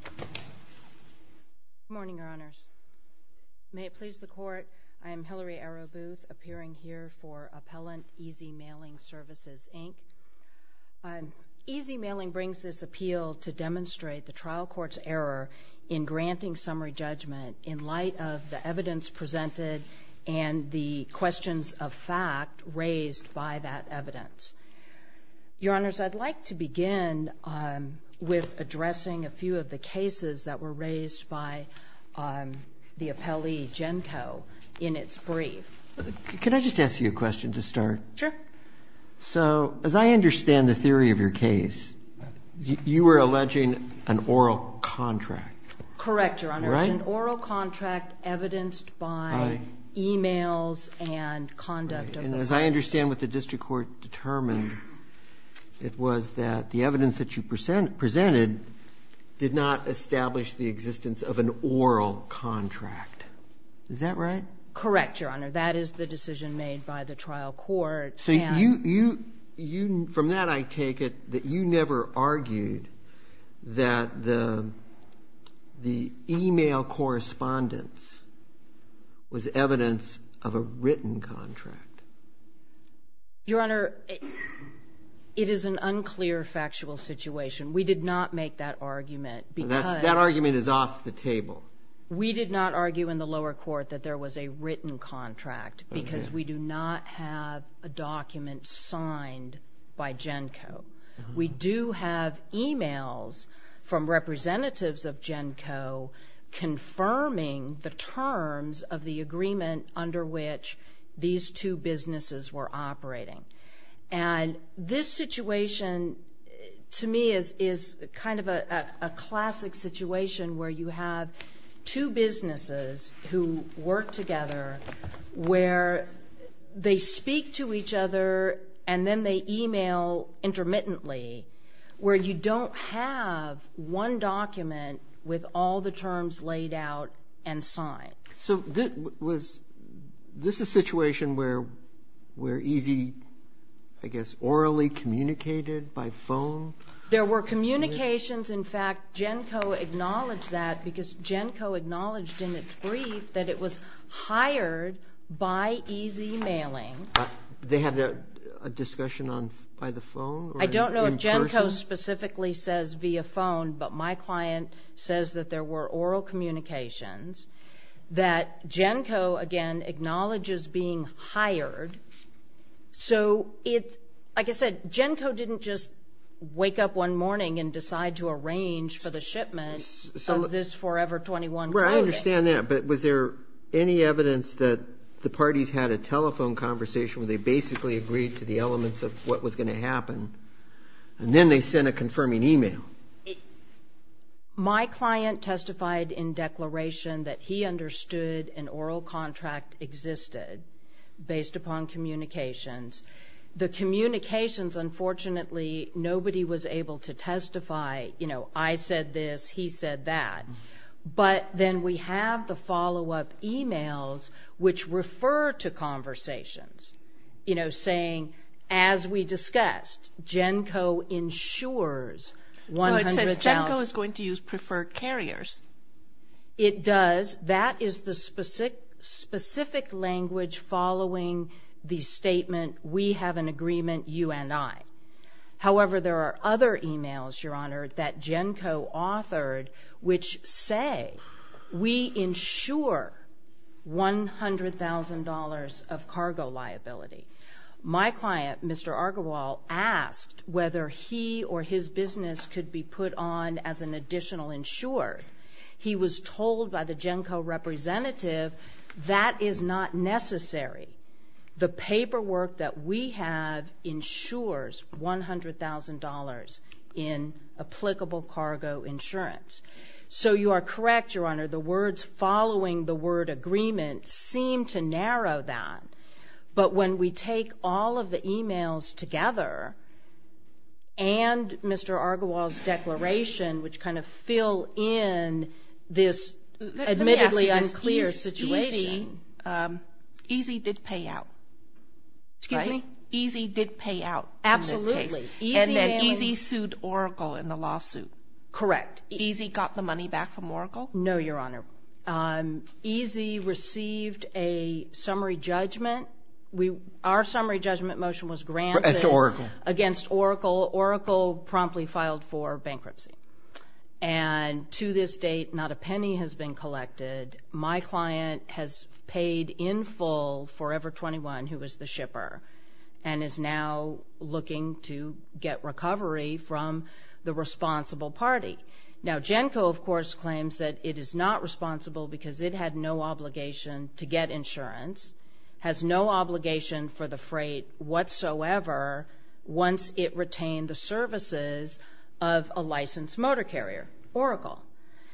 Good morning, Your Honors. May it please the Court, I am Hillary Arrowbooth, appearing here for Appellant EZ Mailing Services, Inc. EZ Mailing brings this appeal to demonstrate the trial court's error in granting summary judgment in light of the evidence presented and the questions of fact raised by that evidence. Your Honors, I'd like to begin with addressing a few of the cases that were raised by the appellee, Genco, in its brief. Can I just ask you a question to start? Sure. So, as I understand the theory of your case, you were alleging an oral contract. Correct, Your Honors. All right. An oral contract evidenced by emails and conduct of the press. And as I understand what the district court determined, it was that the evidence that you presented did not establish the existence of an oral contract. Is that right? Correct, Your Honor. That is the decision made by the trial court. So, from that I take it that you never argued that the email correspondence was evidence of a written contract. Your Honor, it is an unclear factual situation. We did not make that argument because That argument is off the table. We did not argue in the lower court that there was a written contract because we do not have a document signed by Genco. We do have emails from representatives of Genco confirming the terms of the agreement under which these two businesses were operating. And this situation, to me, is kind of a classic situation where you have two businesses who work together where they speak to each other and then they email intermittently where you don't have one document with all the terms laid out and signed. So, this is a situation where Easy, I guess, orally communicated by phone? There were communications. In fact, Genco acknowledged that because Genco acknowledged in its brief that it was hired by Easy Mailing. They had a discussion by the phone? I don't know if Genco specifically says via phone, but my client says that there were oral communications that Genco, again, acknowledges being hired. So, like I said, Genco didn't just wake up one morning and decide to arrange for the shipment of this Forever 21 clothing. I understand that, but was there any evidence that the parties had a telephone conversation where they basically agreed to the elements of what was going to happen and then they sent a confirming email? My client testified in declaration that he understood an oral contract existed based upon communications. The communications, unfortunately, nobody was able to testify. You know, I said this, he said that. But then we have the follow-up emails which refer to conversations, you know, saying, as we discussed, Genco ensures $100,000. No, it says Genco is going to use preferred carriers. It does. That is the specific language following the statement, we have an agreement, you and I. However, there are other emails, Your Honor, that Genco authored which say, we insure $100,000 of cargo liability. My client, Mr. Argywell, asked whether he or his business could be put on as an additional insurer. He was told by the Genco representative that is not necessary. The paperwork that we have insures $100,000 in applicable cargo insurance. So you are correct, Your Honor, the words following the word agreement seem to narrow that. But when we take all of the emails together and Mr. Argywell's declaration, which kind of fill in this admittedly unclear situation. EASY did pay out. Excuse me? EASY did pay out in this case. Absolutely. And then EASY sued Oracle in the lawsuit. Correct. EASY got the money back from Oracle? No, Your Honor. EASY received a summary judgment. Our summary judgment motion was granted against Oracle. Oracle promptly filed for bankruptcy. And to this date, not a penny has been collected. My client has paid in full Forever 21, who was the shipper, and is now looking to get recovery from the responsible party. Now, Genco, of course, claims that it is not responsible because it had no obligation to get insurance, has no obligation for the freight whatsoever once it retained the services of a licensed motor carrier, Oracle.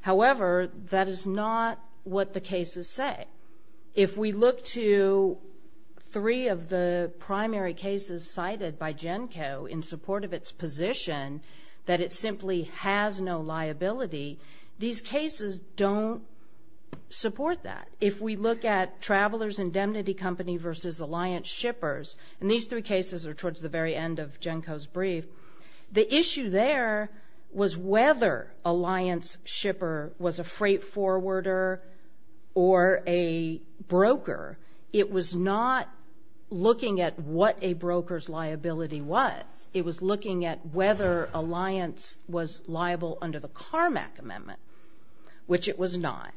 However, that is not what the cases say. If we look to three of the primary cases cited by Genco in support of its position that it simply has no liability, these cases don't support that. If we look at Travelers' Indemnity Company versus Alliance Shippers, and these three cases are towards the very end of Genco's brief, the issue there was whether Alliance Shipper was a freight forwarder or a broker. It was not looking at what a broker's liability was. It was looking at whether Alliance was liable under the CARMAC amendment, which it was not.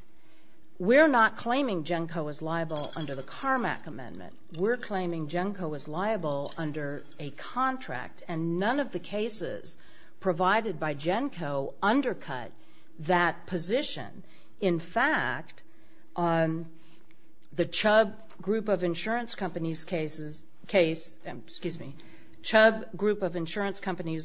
We're not claiming Genco is liable under the CARMAC amendment. We're claiming Genco is liable under a contract, and none of the cases provided by Genco undercut that position. In fact, the Chubb Group of Insurance Companies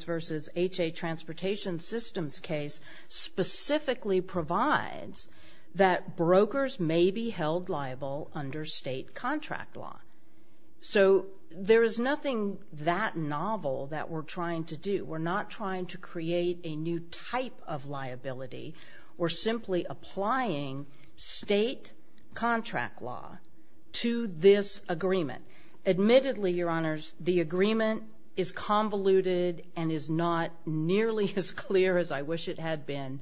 versus H.A. Transportation Systems case specifically provides that brokers may be held liable under state contract law. So there is nothing that novel that we're trying to do. We're not trying to create a new type of liability. We're simply applying state contract law to this agreement. Admittedly, Your Honors, the agreement is convoluted and is not nearly as clear as I wish it had been.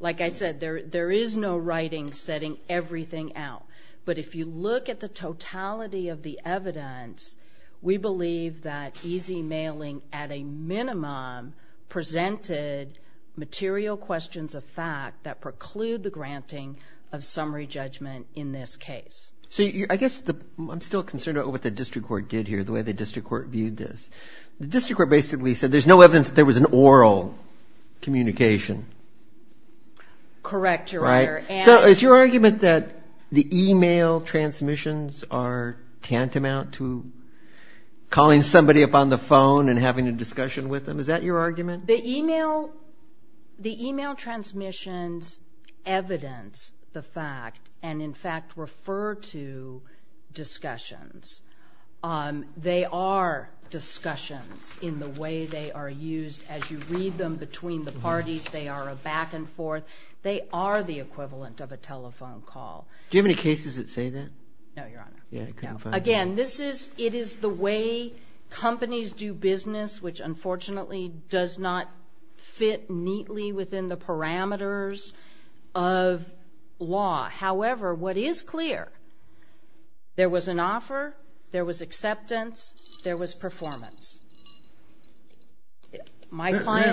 Like I said, there is no writing setting everything out. But if you look at the totality of the evidence, we believe that easy mailing at a minimum presented material questions of fact that preclude the granting of summary judgment in this case. So I guess I'm still concerned about what the district court did here, the way the district court viewed this. The district court basically said there's no evidence that there was an oral communication. Correct, Your Honor. So is your argument that the e-mail transmissions are tantamount to calling somebody up on the phone and having a discussion with them? Is that your argument? The e-mail transmissions evidence the fact and, in fact, refer to discussions. They are discussions in the way they are used. As you read them between the parties, they are a back and forth. They are the equivalent of a telephone call. Do you have any cases that say that? No, Your Honor. Again, it is the way companies do business, which unfortunately does not fit neatly within the parameters of law. However, what is clear, there was an offer, there was acceptance, there was performance.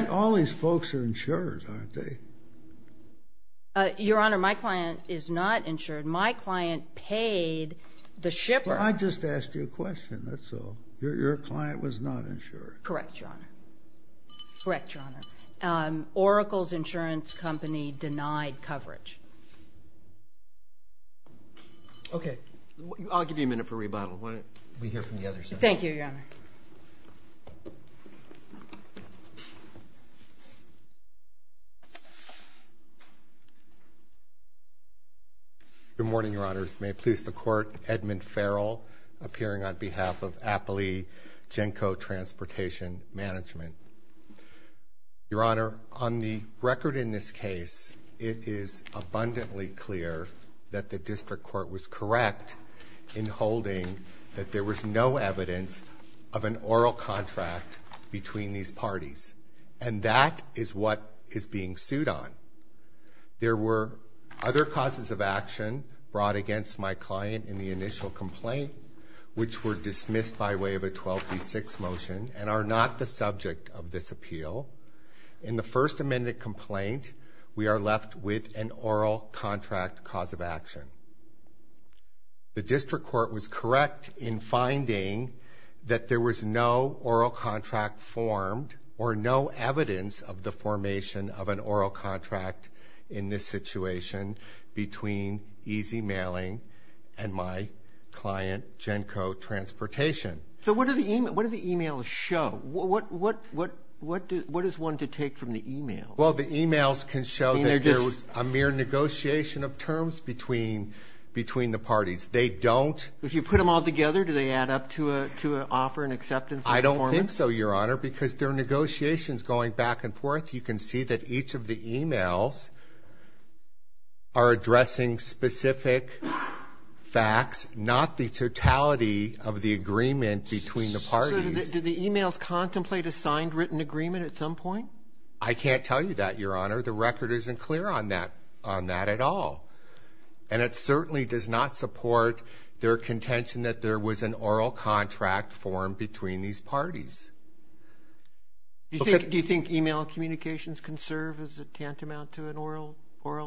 All these folks are insured, aren't they? Your Honor, my client is not insured. My client paid the shipper. I just asked you a question, that's all. Your client was not insured. Correct, Your Honor. Correct, Your Honor. Oracle's insurance company denied coverage. Okay. I'll give you a minute for rebuttal. We hear from the other side. Thank you, Your Honor. Good morning, Your Honors. May it please the Court, Edmund Farrell, appearing on behalf of Appley Genco Transportation Management. Your Honor, on the record in this case, it is abundantly clear that the district court was correct in holding that there was no evidence of an oral contract between these parties. And that is what is being sued on. There were other causes of action brought against my client in the initial complaint, which were dismissed by way of a 12B6 motion and are not the subject of this appeal. In the First Amendment complaint, we are left with an oral contract cause of action. The district court was correct in finding that there was no oral contract formed or no evidence of the formation of an oral contract in this situation between Easy Mailing and my client, Genco Transportation. So what do the e-mails show? What is one to take from the e-mails? Well, the e-mails can show that there was a mere negotiation of terms between the parties. They don't. If you put them all together, do they add up to offer an acceptance of performance? I don't think so, Your Honor, because they're negotiations going back and forth. You can see that each of the e-mails are addressing specific facts, not the totality of the agreement between the parties. So do the e-mails contemplate a signed written agreement at some point? I can't tell you that, Your Honor. The record isn't clear on that at all. And it certainly does not support their contention that there was an oral contract formed between these parties. Do you think e-mail communications can serve as a tantamount to an oral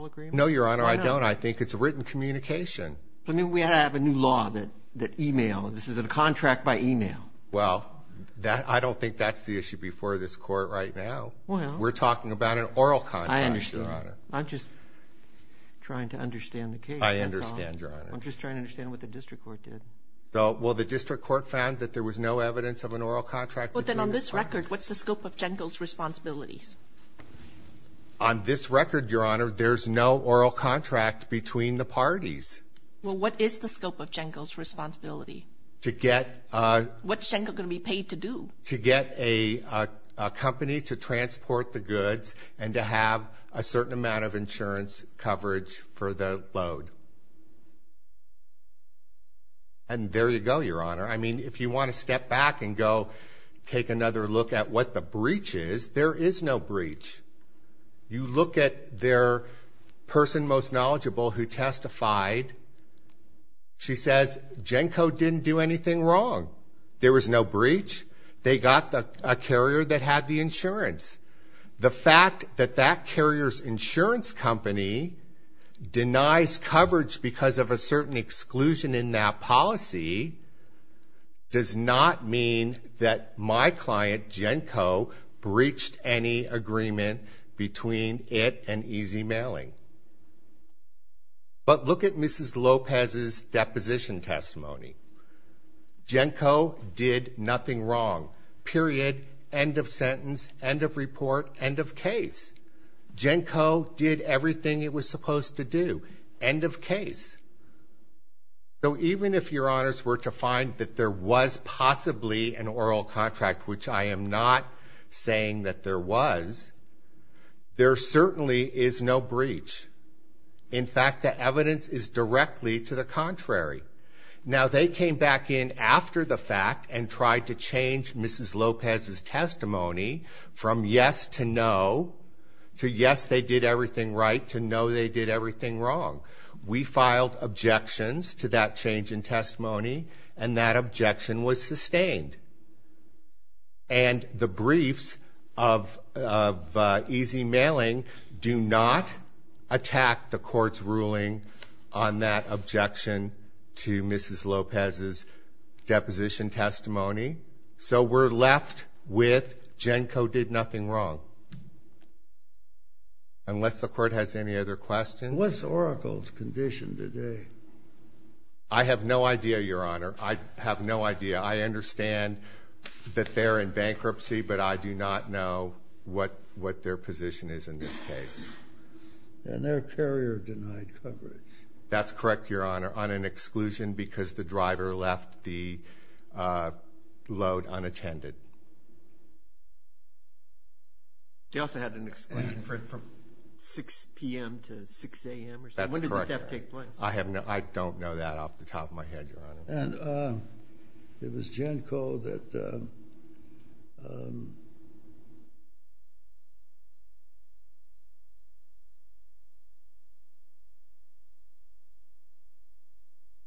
agreement? No, Your Honor, I don't. I think it's a written communication. But maybe we ought to have a new law that e-mail, this is a contract by e-mail. Well, I don't think that's the issue before this court right now. We're talking about an oral contract, Your Honor. I'm just trying to understand the case. I understand, Your Honor. I'm just trying to understand what the district court did. Well, the district court found that there was no evidence of an oral contract. Well, then on this record, what's the scope of GENCO's responsibilities? On this record, Your Honor, there's no oral contract between the parties. Well, what is the scope of GENCO's responsibility? What's GENCO going to be paid to do? To get a company to transport the goods and to have a certain amount of insurance coverage for the load. And there you go, Your Honor. I mean, if you want to step back and go take another look at what the breach is, there is no breach. You look at their person most knowledgeable who testified. She says GENCO didn't do anything wrong. There was no breach. They got a carrier that had the insurance. The fact that that carrier's insurance company denies coverage because of a certain exclusion in that policy does not mean that my client, GENCO, breached any agreement between it and Easy Mailing. But look at Mrs. Lopez's deposition testimony. GENCO did nothing wrong, period. End of sentence. End of report. End of case. GENCO did everything it was supposed to do. End of case. So even if Your Honors were to find that there was possibly an oral contract, which I am not saying that there was, there certainly is no breach. In fact, the evidence is directly to the contrary. Now, they came back in after the fact and tried to change Mrs. Lopez's testimony from yes to no to yes, they did everything right, to no, they did everything wrong. We filed objections to that change in testimony, and that objection was sustained. And the briefs of Easy Mailing do not attack the court's ruling on that objection to Mrs. Lopez's deposition testimony. So we're left with GENCO did nothing wrong. Unless the court has any other questions. What's Oracle's condition today? I have no idea, Your Honor. I have no idea. I understand that they're in bankruptcy, but I do not know what their position is in this case. And their carrier denied coverage. That's correct, Your Honor, on an exclusion because the driver left the load unattended. They also had an exclusion from 6 p.m. to 6 a.m. or something. That's correct. When did the theft take place? I don't know that off the top of my head, Your Honor. And it was GENCO that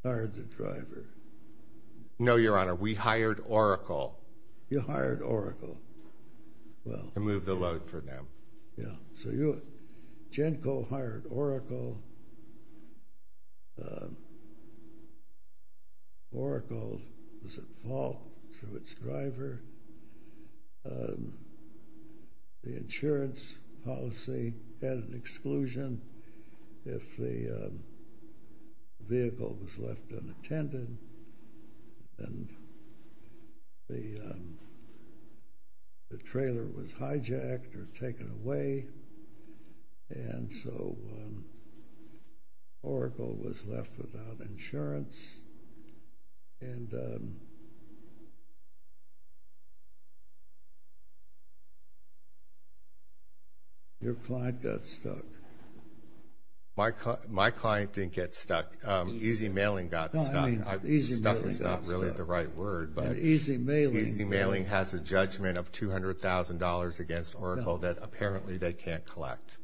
hired the driver. No, Your Honor, we hired Oracle. You hired Oracle. To move the load for them. So GENCO hired Oracle. Oracle was at fault to its driver. The insurance policy had an exclusion if the vehicle was left unattended and the trailer was hijacked or taken away. And so Oracle was left without insurance. Your client got stuck. My client didn't get stuck. Easy Mailing got stuck. Stuck is not really the right word, but Easy Mailing has a judgment of $200,000 against Oracle that apparently they can't collect.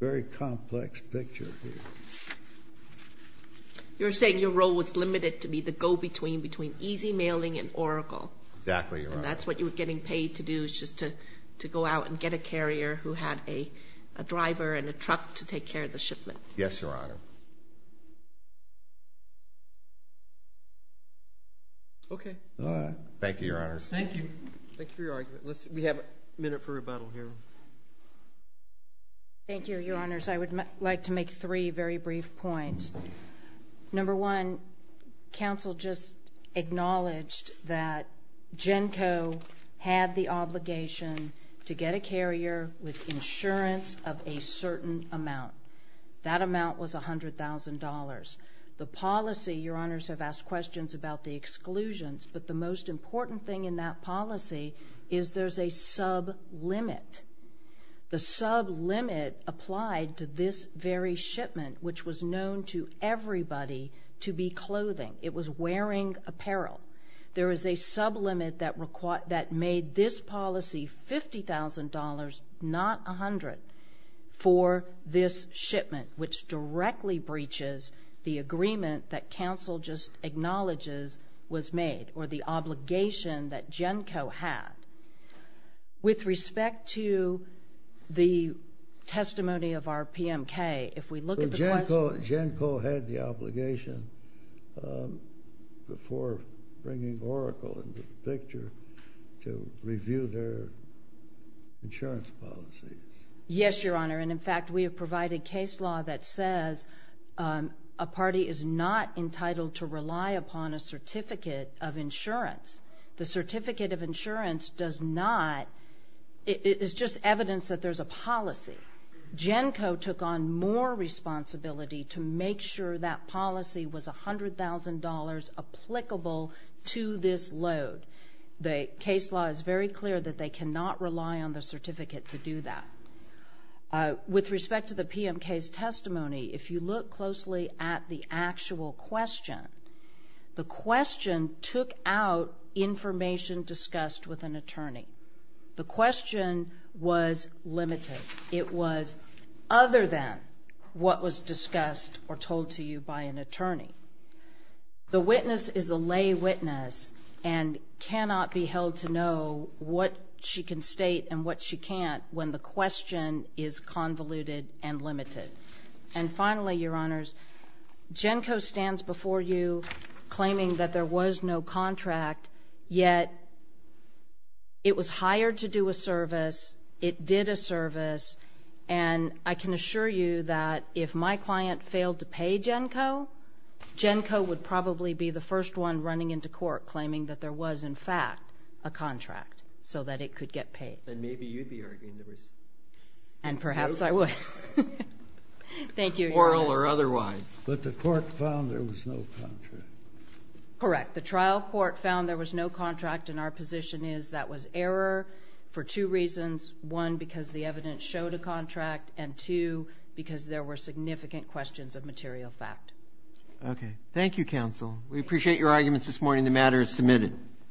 Very complex picture here. You're saying your role was limited to be the go-between between Easy Mailing and Oracle. Exactly, Your Honor. And that's what you were getting paid to do which is to go out and get a carrier who had a driver and a truck to take care of the shipment. Yes, Your Honor. Okay. Thank you, Your Honors. Thank you. Thank you for your argument. We have a minute for rebuttal here. Thank you, Your Honors. I would like to make three very brief points. Number one, counsel just acknowledged that GENCO had the obligation to get a carrier with insurance of a certain amount. That amount was $100,000. The policy, Your Honors have asked questions about the exclusions, but the most important thing in that policy is there's a sub-limit. The sub-limit applied to this very shipment which was known to everybody to be clothing. It was wearing apparel. There is a sub-limit that made this policy $50,000, not $100,000 for this shipment which directly breaches the agreement that counsel just acknowledges was made or the obligation that GENCO had. With respect to the testimony of our PMK, if we look at the question... GENCO had the obligation before bringing Oracle into the picture to review their insurance policies. Yes, Your Honor, and in fact, we have provided case law that says a party is not entitled to rely upon a certificate of insurance. The certificate of insurance does not. It is just evidence that there's a policy. GENCO took on more responsibility to make sure that policy was $100,000 applicable to this load. The case law is very clear that they cannot rely on the certificate to do that. With respect to the PMK's testimony, if you look closely at the actual question, the question took out information discussed with an attorney. The question was limited. It was other than what was discussed or told to you by an attorney. The witness is a lay witness and cannot be held to know what she can state and what she can't when the question is convoluted and limited. And finally, Your Honors, GENCO stands before you claiming that there was no contract, yet it was hired to do a service, it did a service, and I can assure you that if my client failed to pay GENCO, GENCO would probably be the first one running into court claiming that there was, in fact, a contract so that it could get paid. Then maybe you'd be arguing that it was... And perhaps I would. Thank you, Your Honors. Oral or otherwise. But the court found there was no contract. Correct. The trial court found there was no contract, and our position is that was error for two reasons. One, because the evidence showed a contract, and two, because there were significant questions of material fact. Okay. Thank you, counsel. We appreciate your arguments this morning. The matter is submitted.